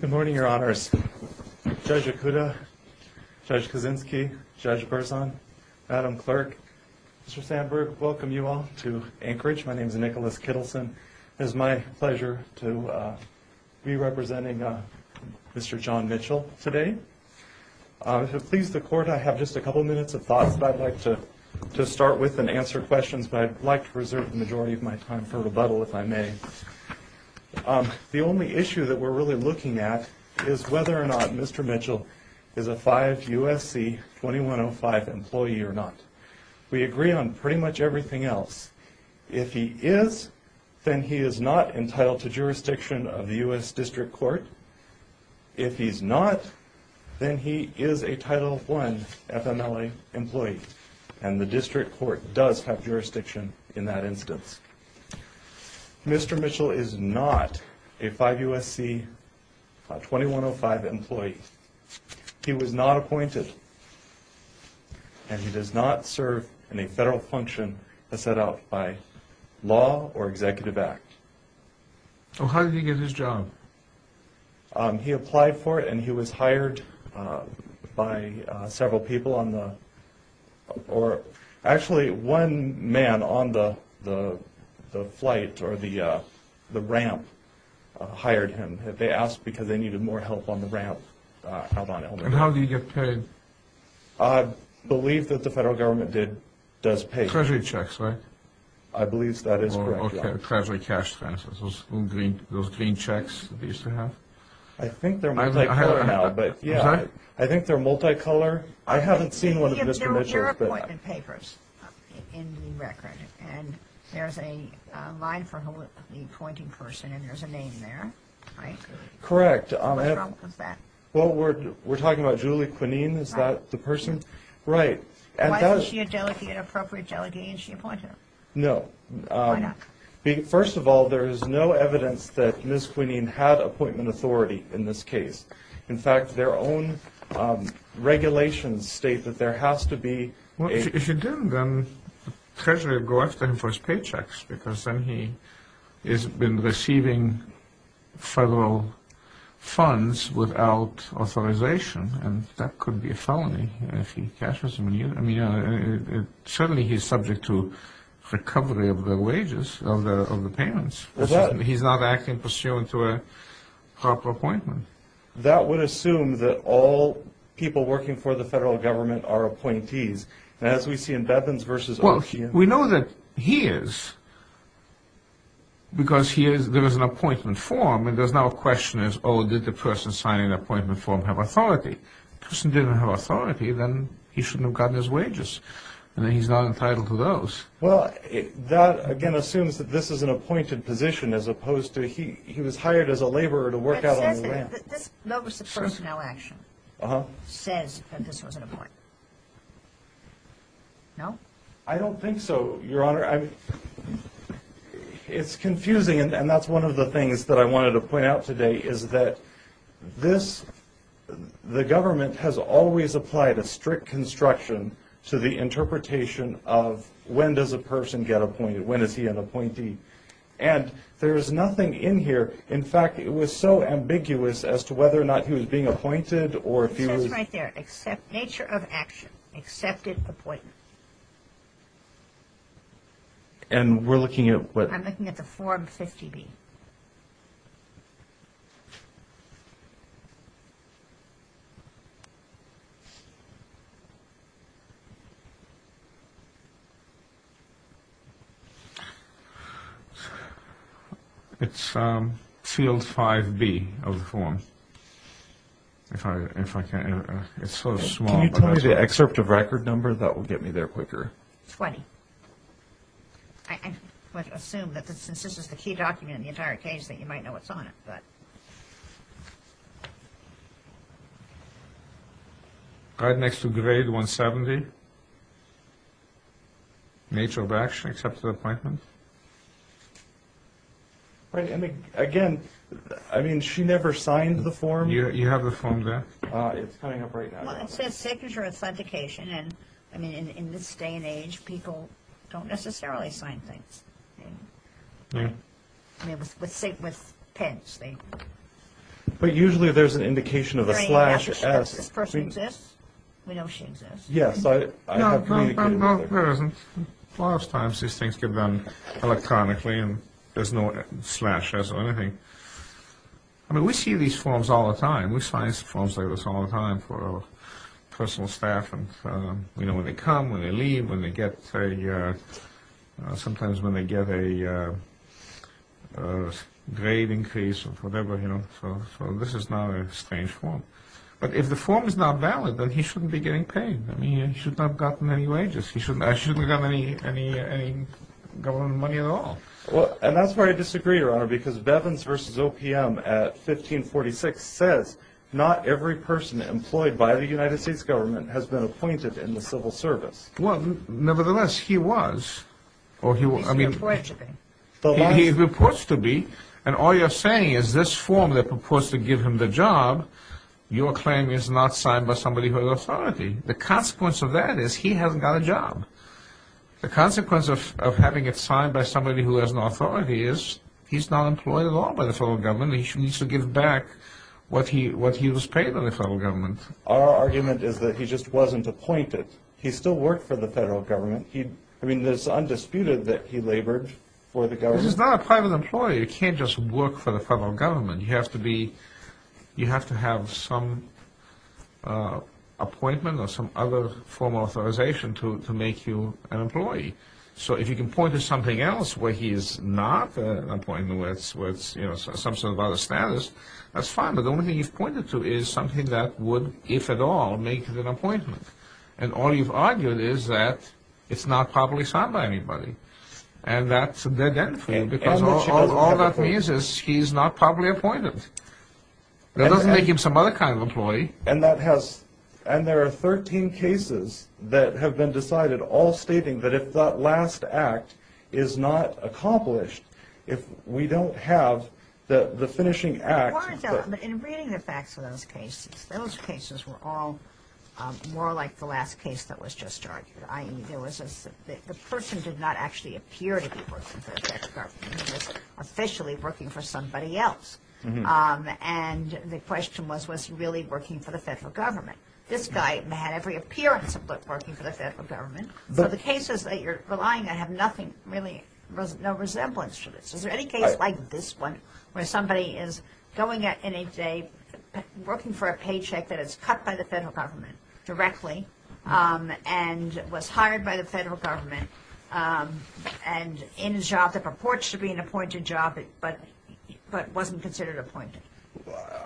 Good morning, Your Honors. Judge Okuda, Judge Kaczynski, Judge Berzon, Madam Clerk, Mr. Sandberg, welcome you all to Anchorage. My name is Nicholas Kittleson. It is my pleasure to be representing Mr. John Mitchell today. If it pleases the Court, I have just a couple minutes of thoughts that I'd like to start with and answer questions, but I'd like to reserve the majority of my time for rebuttal, if I may. The only issue that we're really looking at is whether or not Mr. Mitchell is a 5 U.S.C. 2105 employee or not. We agree on pretty much everything else. If he is, then he is not entitled to jurisdiction of the U.S. District Court. If he's not, then he is a Title I FMLA employee, and the District Court does have jurisdiction in that instance. Mr. Mitchell is not a 5 U.S.C. 2105 employee. He was not appointed, and he does not serve in a federal function set out by law or executive act. So how did he get his job? He applied for it, and he was hired by several people on the – or actually, one man on the flight or the ramp hired him. They asked because they needed more help on the ramp. And how do you get paid? I believe that the federal government does pay. Treasury checks, right? I believe that is correct. Or Treasury cash transfers, those green checks that they used to have. I think they're multi-color now, but yeah, I think they're multi-color. I haven't seen one of Mr. Mitchell's. There were appointment papers in the record, and there's a line for the appointing person, and there's a name there, right? Correct. Who was that? Well, we're talking about Julie Quinine. Is that the person? Right. Right. And does – Was she a delegate, an appropriate delegate, and she appointed him? No. Why not? First of all, there is no evidence that Ms. Quinine had appointment authority in this case. In fact, their own regulations state that there has to be a – Well, if he didn't, then Treasury would go after him for his paychecks because then he has been receiving federal funds without authorization, and that could be a felony if he cashes them. I mean, certainly he's subject to recovery of the wages, of the payments. Well, that – He's not acting pursuant to a proper appointment. That would assume that all people working for the federal government are appointees. And as we see in Bevins v. OPM – Well, we know that he is because he is – there was an appointment form, and there's now a question as, oh, did the person signing the appointment form have authority? If the person didn't have authority, then he shouldn't have gotten his wages, and then he's not entitled to those. Well, that, again, assumes that this is an appointed position as opposed to he was hired as a laborer to work out on the land. But it says that this – that was the personnel action. Uh-huh. It says that this was an appointment. No? I don't think so, Your Honor. It's confusing, and that's one of the things that I wanted to point out today, is that this – the government has always applied a strict construction to the interpretation of when does a person get appointed, when is he an appointee. And there is nothing in here – in fact, it was so ambiguous as to whether or not he was being appointed or if he was – It says right there, accept nature of action, accepted appointment. And we're looking at what? I'm looking at the Form 50B. It's field 5B of the form, if I can – it's so small. Can you tell me the excerpt of record number? That will get me there quicker. 20. I would assume that since this is the key document in the entire case that you might know what's on it, but – Right next to grade 170, nature of action, accepted appointment. Again, I mean, she never signed the form. You have the form there? It's coming up right now. Well, it says signature authentication, and, I mean, in this day and age, people don't necessarily sign things. I mean, with pens, they – But usually there's an indication of a slash as – Does this person exist? We know she exists. Yes, I have communicated with her. No, no, no, no, there isn't. Lots of times these things get done electronically and there's no slashes or anything. I mean, we see these forms all the time. We sign forms like this all the time for our personal staff and, you know, when they come, when they leave, when they get a – sometimes when they get a grade increase or whatever, you know, so this is not a strange form. But if the form is not valid, then he shouldn't be getting paid. I mean, he should not have gotten any wages. He shouldn't – I shouldn't have gotten any government money at all. And that's where I disagree, Your Honor, because Bevins v. OPM at 1546 says, not every person employed by the United States government has been appointed in the civil service. Well, nevertheless, he was, or he – He's reported to be. He reports to be, and all you're saying is this form that proposed to give him the job, your claim is not signed by somebody who has authority. The consequence of that is he hasn't got a job. The consequence of having it signed by somebody who has an authority is he's not employed at all by the federal government. He needs to give back what he was paid by the federal government. Our argument is that he just wasn't appointed. He still worked for the federal government. I mean, it's undisputed that he labored for the government. He's not a private employee. You can't just work for the federal government. You have to be – you have to have some appointment or some other form of authorization to make you an employee. So if you can point to something else where he is not appointed, where it's, you know, some sort of other status, that's fine. But the only thing you've pointed to is something that would, if at all, make it an appointment. And all you've argued is that it's not properly signed by anybody. And that's a dead end for you. Because all that means is he's not properly appointed. That doesn't make him some other kind of employee. And that has – and there are 13 cases that have been decided, all stating that if that last act is not accomplished, if we don't have the finishing act. In reading the facts of those cases, those cases were all more like the last case that was just argued. I mean, there was a – the person did not actually appear to be working for the federal government. He was officially working for somebody else. And the question was, was he really working for the federal government? This guy had every appearance of working for the federal government. So the cases that you're relying on have nothing really – no resemblance to this. Is there any case like this one where somebody is going in a day, working for a paycheck that is cut by the federal government directly and was hired by the federal government and in a job that purports to be an appointed job but wasn't considered appointed?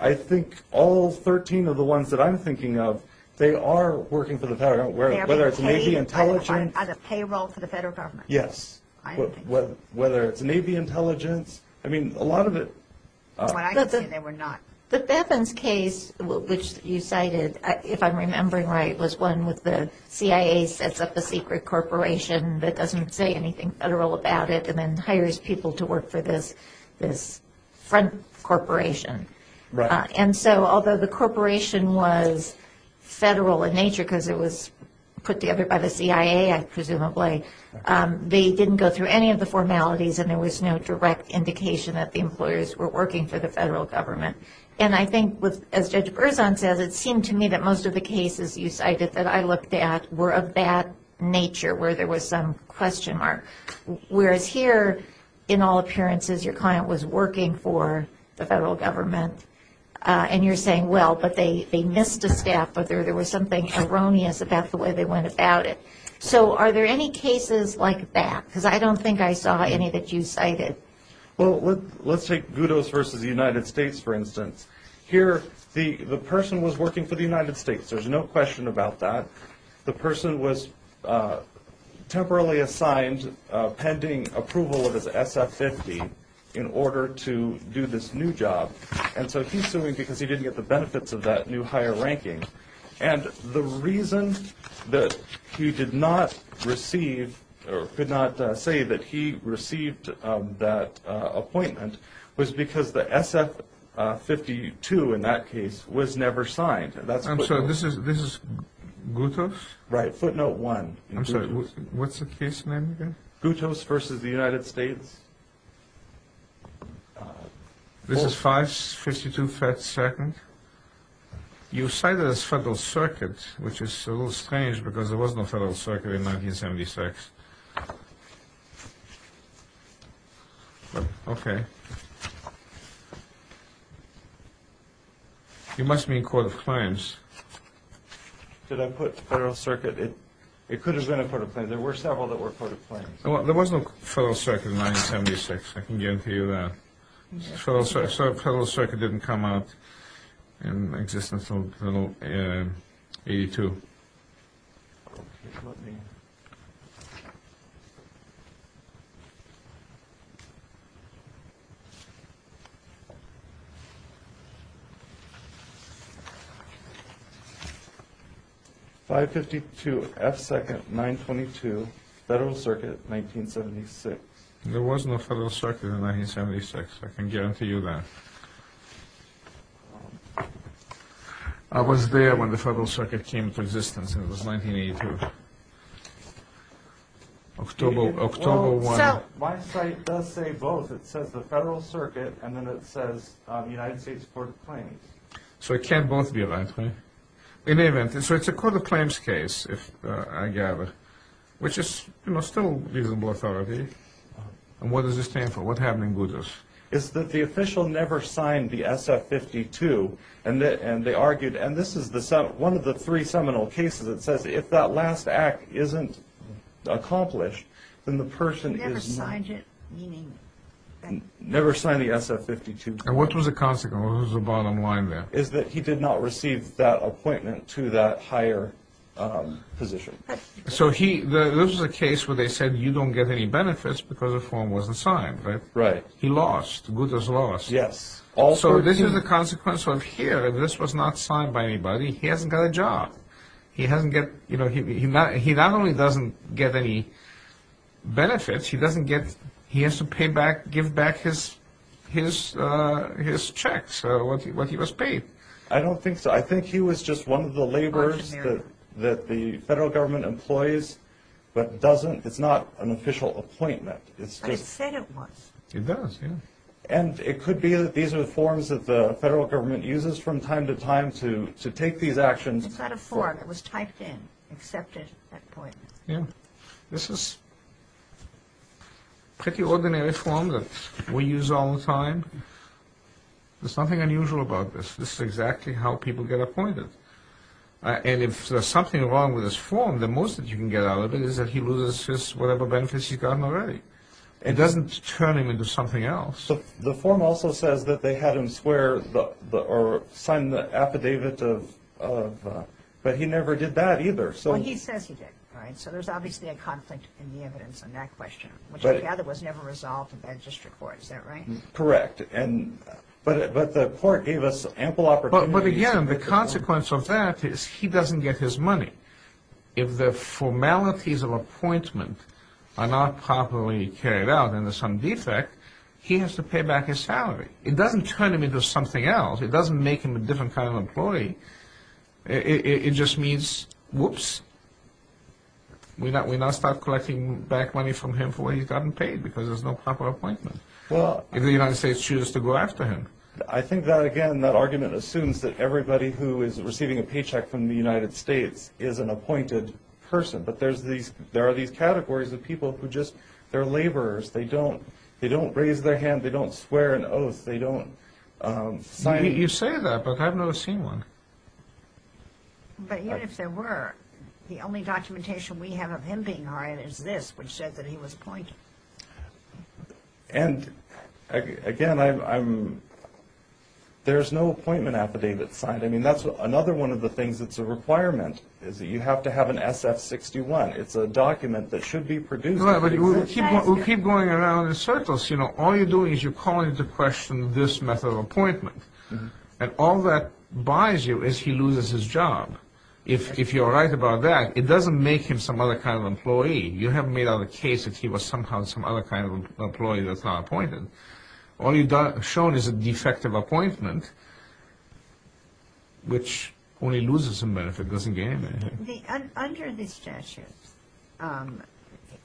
I think all 13 of the ones that I'm thinking of, they are working for the federal government, whether it's Navy intelligence. Payroll for the federal government? Yes. I don't think so. Whether it's Navy intelligence. I mean, a lot of it – Well, I can say they were not. The Bevins case, which you cited, if I'm remembering right, was one with the CIA sets up a secret corporation that doesn't say anything federal about it and then hires people to work for this front corporation. And so although the corporation was federal in nature because it was put together by the CIA, presumably, they didn't go through any of the formalities and there was no direct indication that the employers were working for the federal government. And I think, as Judge Berzon says, it seemed to me that most of the cases you cited that I looked at were of that nature, where there was some question mark. Whereas here, in all appearances, your client was working for the federal government and you're saying, well, but they missed a step or there was something erroneous about the way they went about it. So are there any cases like that? Because I don't think I saw any that you cited. Well, let's take Gudos v. United States, for instance. Here, the person was working for the United States. There's no question about that. The person was temporarily assigned pending approval of his SF50 in order to do this new job. And so he's suing because he didn't get the benefits of that new higher ranking. And the reason that he did not receive or could not say that he received that appointment was because the SF52 in that case was never signed. I'm sorry, this is Gudos? Right, footnote one. I'm sorry, what's the case name again? Gudos v. United States. This is 552 Fed Second. You cite it as Federal Circuit, which is a little strange because there was no Federal Circuit in 1976. You must mean Court of Claims. Did I put Federal Circuit? It could have been a Court of Claims. There were several that were Court of Claims. There was no Federal Circuit in 1976. I can guarantee you that. So Federal Circuit didn't come out in existence until 82. 552 F Second 922 Federal Circuit 1976. There was no Federal Circuit in 1976. I can guarantee you that. I was there when the Federal Circuit came into existence, and it was 1982. October 1. So my site does say both. It says the Federal Circuit, and then it says United States Court of Claims. So it can't both be right, right? In any event, so it's a Court of Claims case, I gather, which is still reasonable authority. What does this stand for? What happened in Boudos? It's that the official never signed the SF-52, and they argued, and this is one of the three seminal cases that says if that last act isn't accomplished, then the person is not. He never signed it, meaning. Never signed the SF-52. And what was the consequence? What was the bottom line there? Is that he did not receive that appointment to that higher position. So this is a case where they said you don't get any benefits because the form wasn't signed, right? Right. He lost. Boudos lost. Yes. So this is a consequence of here. This was not signed by anybody. He hasn't got a job. He not only doesn't get any benefits, he has to pay back, give back his checks, what he was paid. I don't think so. I think he was just one of the laborers that the federal government employs, but it's not an official appointment. But it said it was. It does, yes. And it could be that these are the forms that the federal government uses from time to time to take these actions. It's not a form. It was typed in, accepted appointment. Yes. This is a pretty ordinary form that we use all the time. There's nothing unusual about this. This is exactly how people get appointed. And if there's something wrong with this form, the most that you can get out of it is that he loses whatever benefits he's gotten already. It doesn't turn him into something else. The form also says that they had him swear or sign the affidavit, but he never did that either. Well, he says he did, right? So there's obviously a conflict in the evidence on that question, which I gather was never resolved in that district court. Is that right? Correct. But the court gave us ample opportunities. But, again, the consequence of that is he doesn't get his money. If the formalities of appointment are not properly carried out and there's some defect, he has to pay back his salary. It doesn't turn him into something else. It doesn't make him a different kind of employee. It just means, whoops, we now start collecting back money from him for what he's gotten paid because there's no proper appointment. If the United States chooses to go after him. I think that, again, that argument assumes that everybody who is receiving a paycheck from the United States is an appointed person. But there are these categories of people who just, they're laborers. They don't raise their hand. They don't swear an oath. They don't sign. You say that, but I've never seen one. But even if there were, the only documentation we have of him being hired is this, which said that he was appointed. And, again, there's no appointment affidavit signed. I mean, that's another one of the things that's a requirement is that you have to have an SF-61. It's a document that should be produced. We'll keep going around in circles. All you're doing is you're calling into question this method of appointment. And all that buys you is he loses his job. If you're right about that, it doesn't make him some other kind of employee. You haven't made out a case that he was somehow some other kind of employee that's not appointed. All you've shown is a defective appointment, which only loses him benefit, doesn't gain him anything. Under the statute,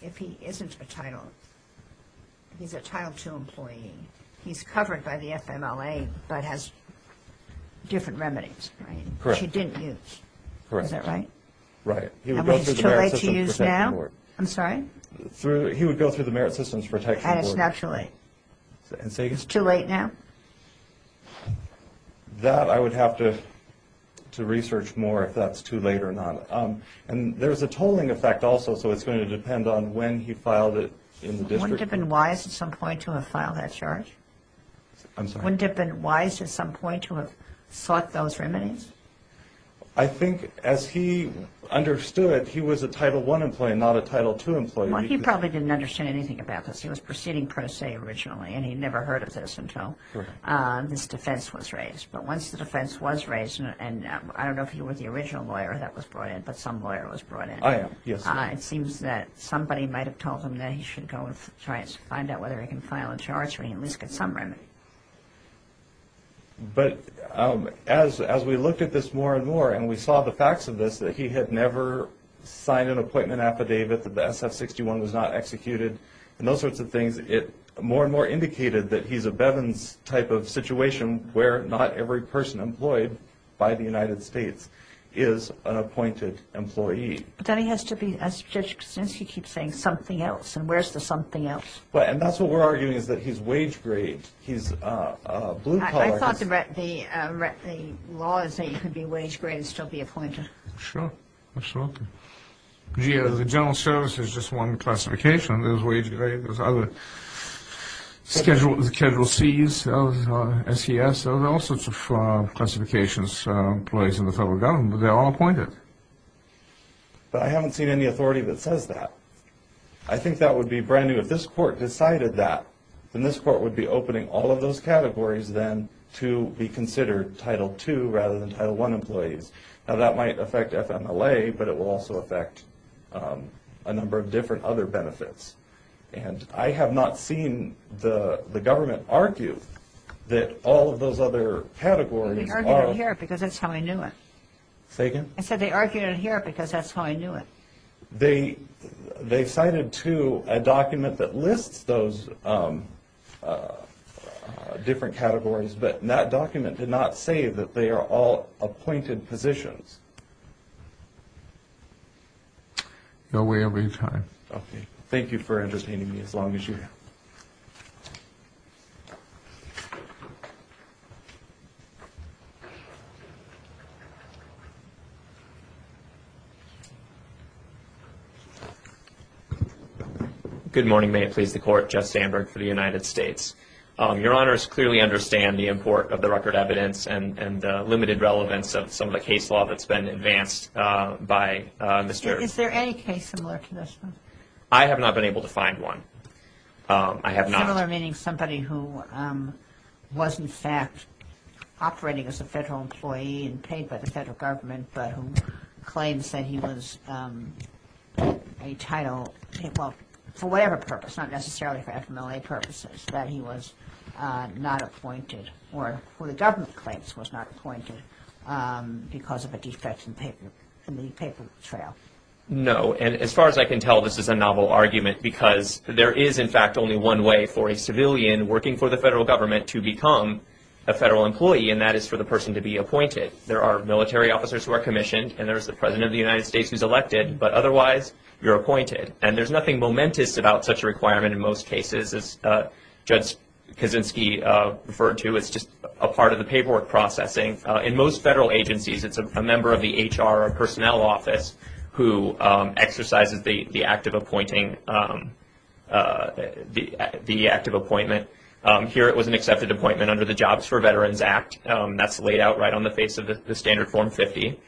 if he isn't a title, he's a Title II employee, he's covered by the FMLA, but has different remedies, right, which he didn't use. Correct. Is that right? Right. I mean, it's too late to use now? I'm sorry? He would go through the Merit Systems Protection Board. And it's now too late? It's too late now? That I would have to research more if that's too late or not. And there's a tolling effect also, so it's going to depend on when he filed it in the district. Wouldn't it have been wise at some point to have filed that charge? I'm sorry? Wouldn't it have been wise at some point to have sought those remedies? I think as he understood it, he was a Title I employee and not a Title II employee. Well, he probably didn't understand anything about this. He was proceeding per se originally, and he'd never heard of this until this defense was raised. But once the defense was raised, and I don't know if he was the original lawyer that was brought in, but some lawyer was brought in. I am, yes. It seems that somebody might have told him that he should go and try to find out whether he can file a charge or he at least gets some remedy. But as we looked at this more and more and we saw the facts of this, that he had never signed an appointment affidavit, that the SF-61 was not executed, and those sorts of things, it more and more indicated that he's a Bevin's type of situation where not every person employed by the United States is an appointed employee. Then he has to be, as Judge Krasinski keeps saying, something else. And where's the something else? And that's what we're arguing, is that he's wage-grade. I thought the law is that you could be wage-grade and still be appointed. Sure, absolutely. The general service is just one classification. There's wage-grade, there's other. Schedule C's, SES, there's all sorts of classifications, employees in the federal government, but they're all appointed. But I haven't seen any authority that says that. I think that would be brand new. If this court decided that, then this court would be opening all of those categories then to be considered Title II rather than Title I employees. Now, that might affect FMLA, but it will also affect a number of different other benefits. And I have not seen the government argue that all of those other categories are... They argued it here because that's how I knew it. Say again? I said they argued it here because that's how I knew it. They cited, too, a document that lists those different categories, but that document did not say that they are all appointed positions. No way I'm going to try. Okay. Thank you for entertaining me as long as you have. Good morning. May it please the Court. Jeff Sandberg for the United States. Your Honors, clearly understand the import of the record evidence and the limited relevance of some of the case law that's been advanced by Mr.... Is there any case similar to this one? I have not been able to find one. I have not. Similar meaning somebody who was, in fact, operating as a federal employee and paid by the federal government, but who claims that he was entitled, for whatever purpose, not necessarily for FMLA purposes, that he was not appointed or who the government claims was not appointed because of a defect in the paper trail. No. And as far as I can tell, this is a novel argument because there is, in fact, only one way for a civilian working for the federal government to become a federal employee, and that is for the person to be appointed. There are military officers who are commissioned, and there's the President of the United States who's elected, but otherwise you're appointed. And there's nothing momentous about such a requirement in most cases, as Judge Kaczynski referred to. It's just a part of the paperwork processing. In most federal agencies, it's a member of the HR or personnel office who exercises the act of appointing, the act of appointment. Here it was an accepted appointment under the Jobs for Veterans Act. That's laid out right on the face of the Standard Form 50.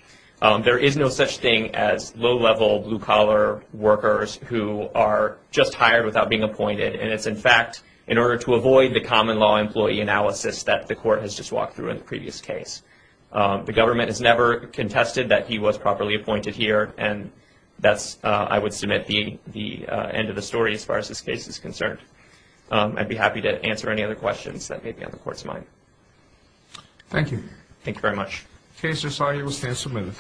There is no such thing as low-level, blue-collar workers who are just hired without being appointed, and it's, in fact, in order to avoid the common law employee analysis that the Court has just walked through in the previous case. The government has never contested that he was properly appointed here, and that's, I would submit, the end of the story as far as this case is concerned. I'd be happy to answer any other questions that may be on the Court's mind. Thank you. Thank you very much. The case has now been submitted.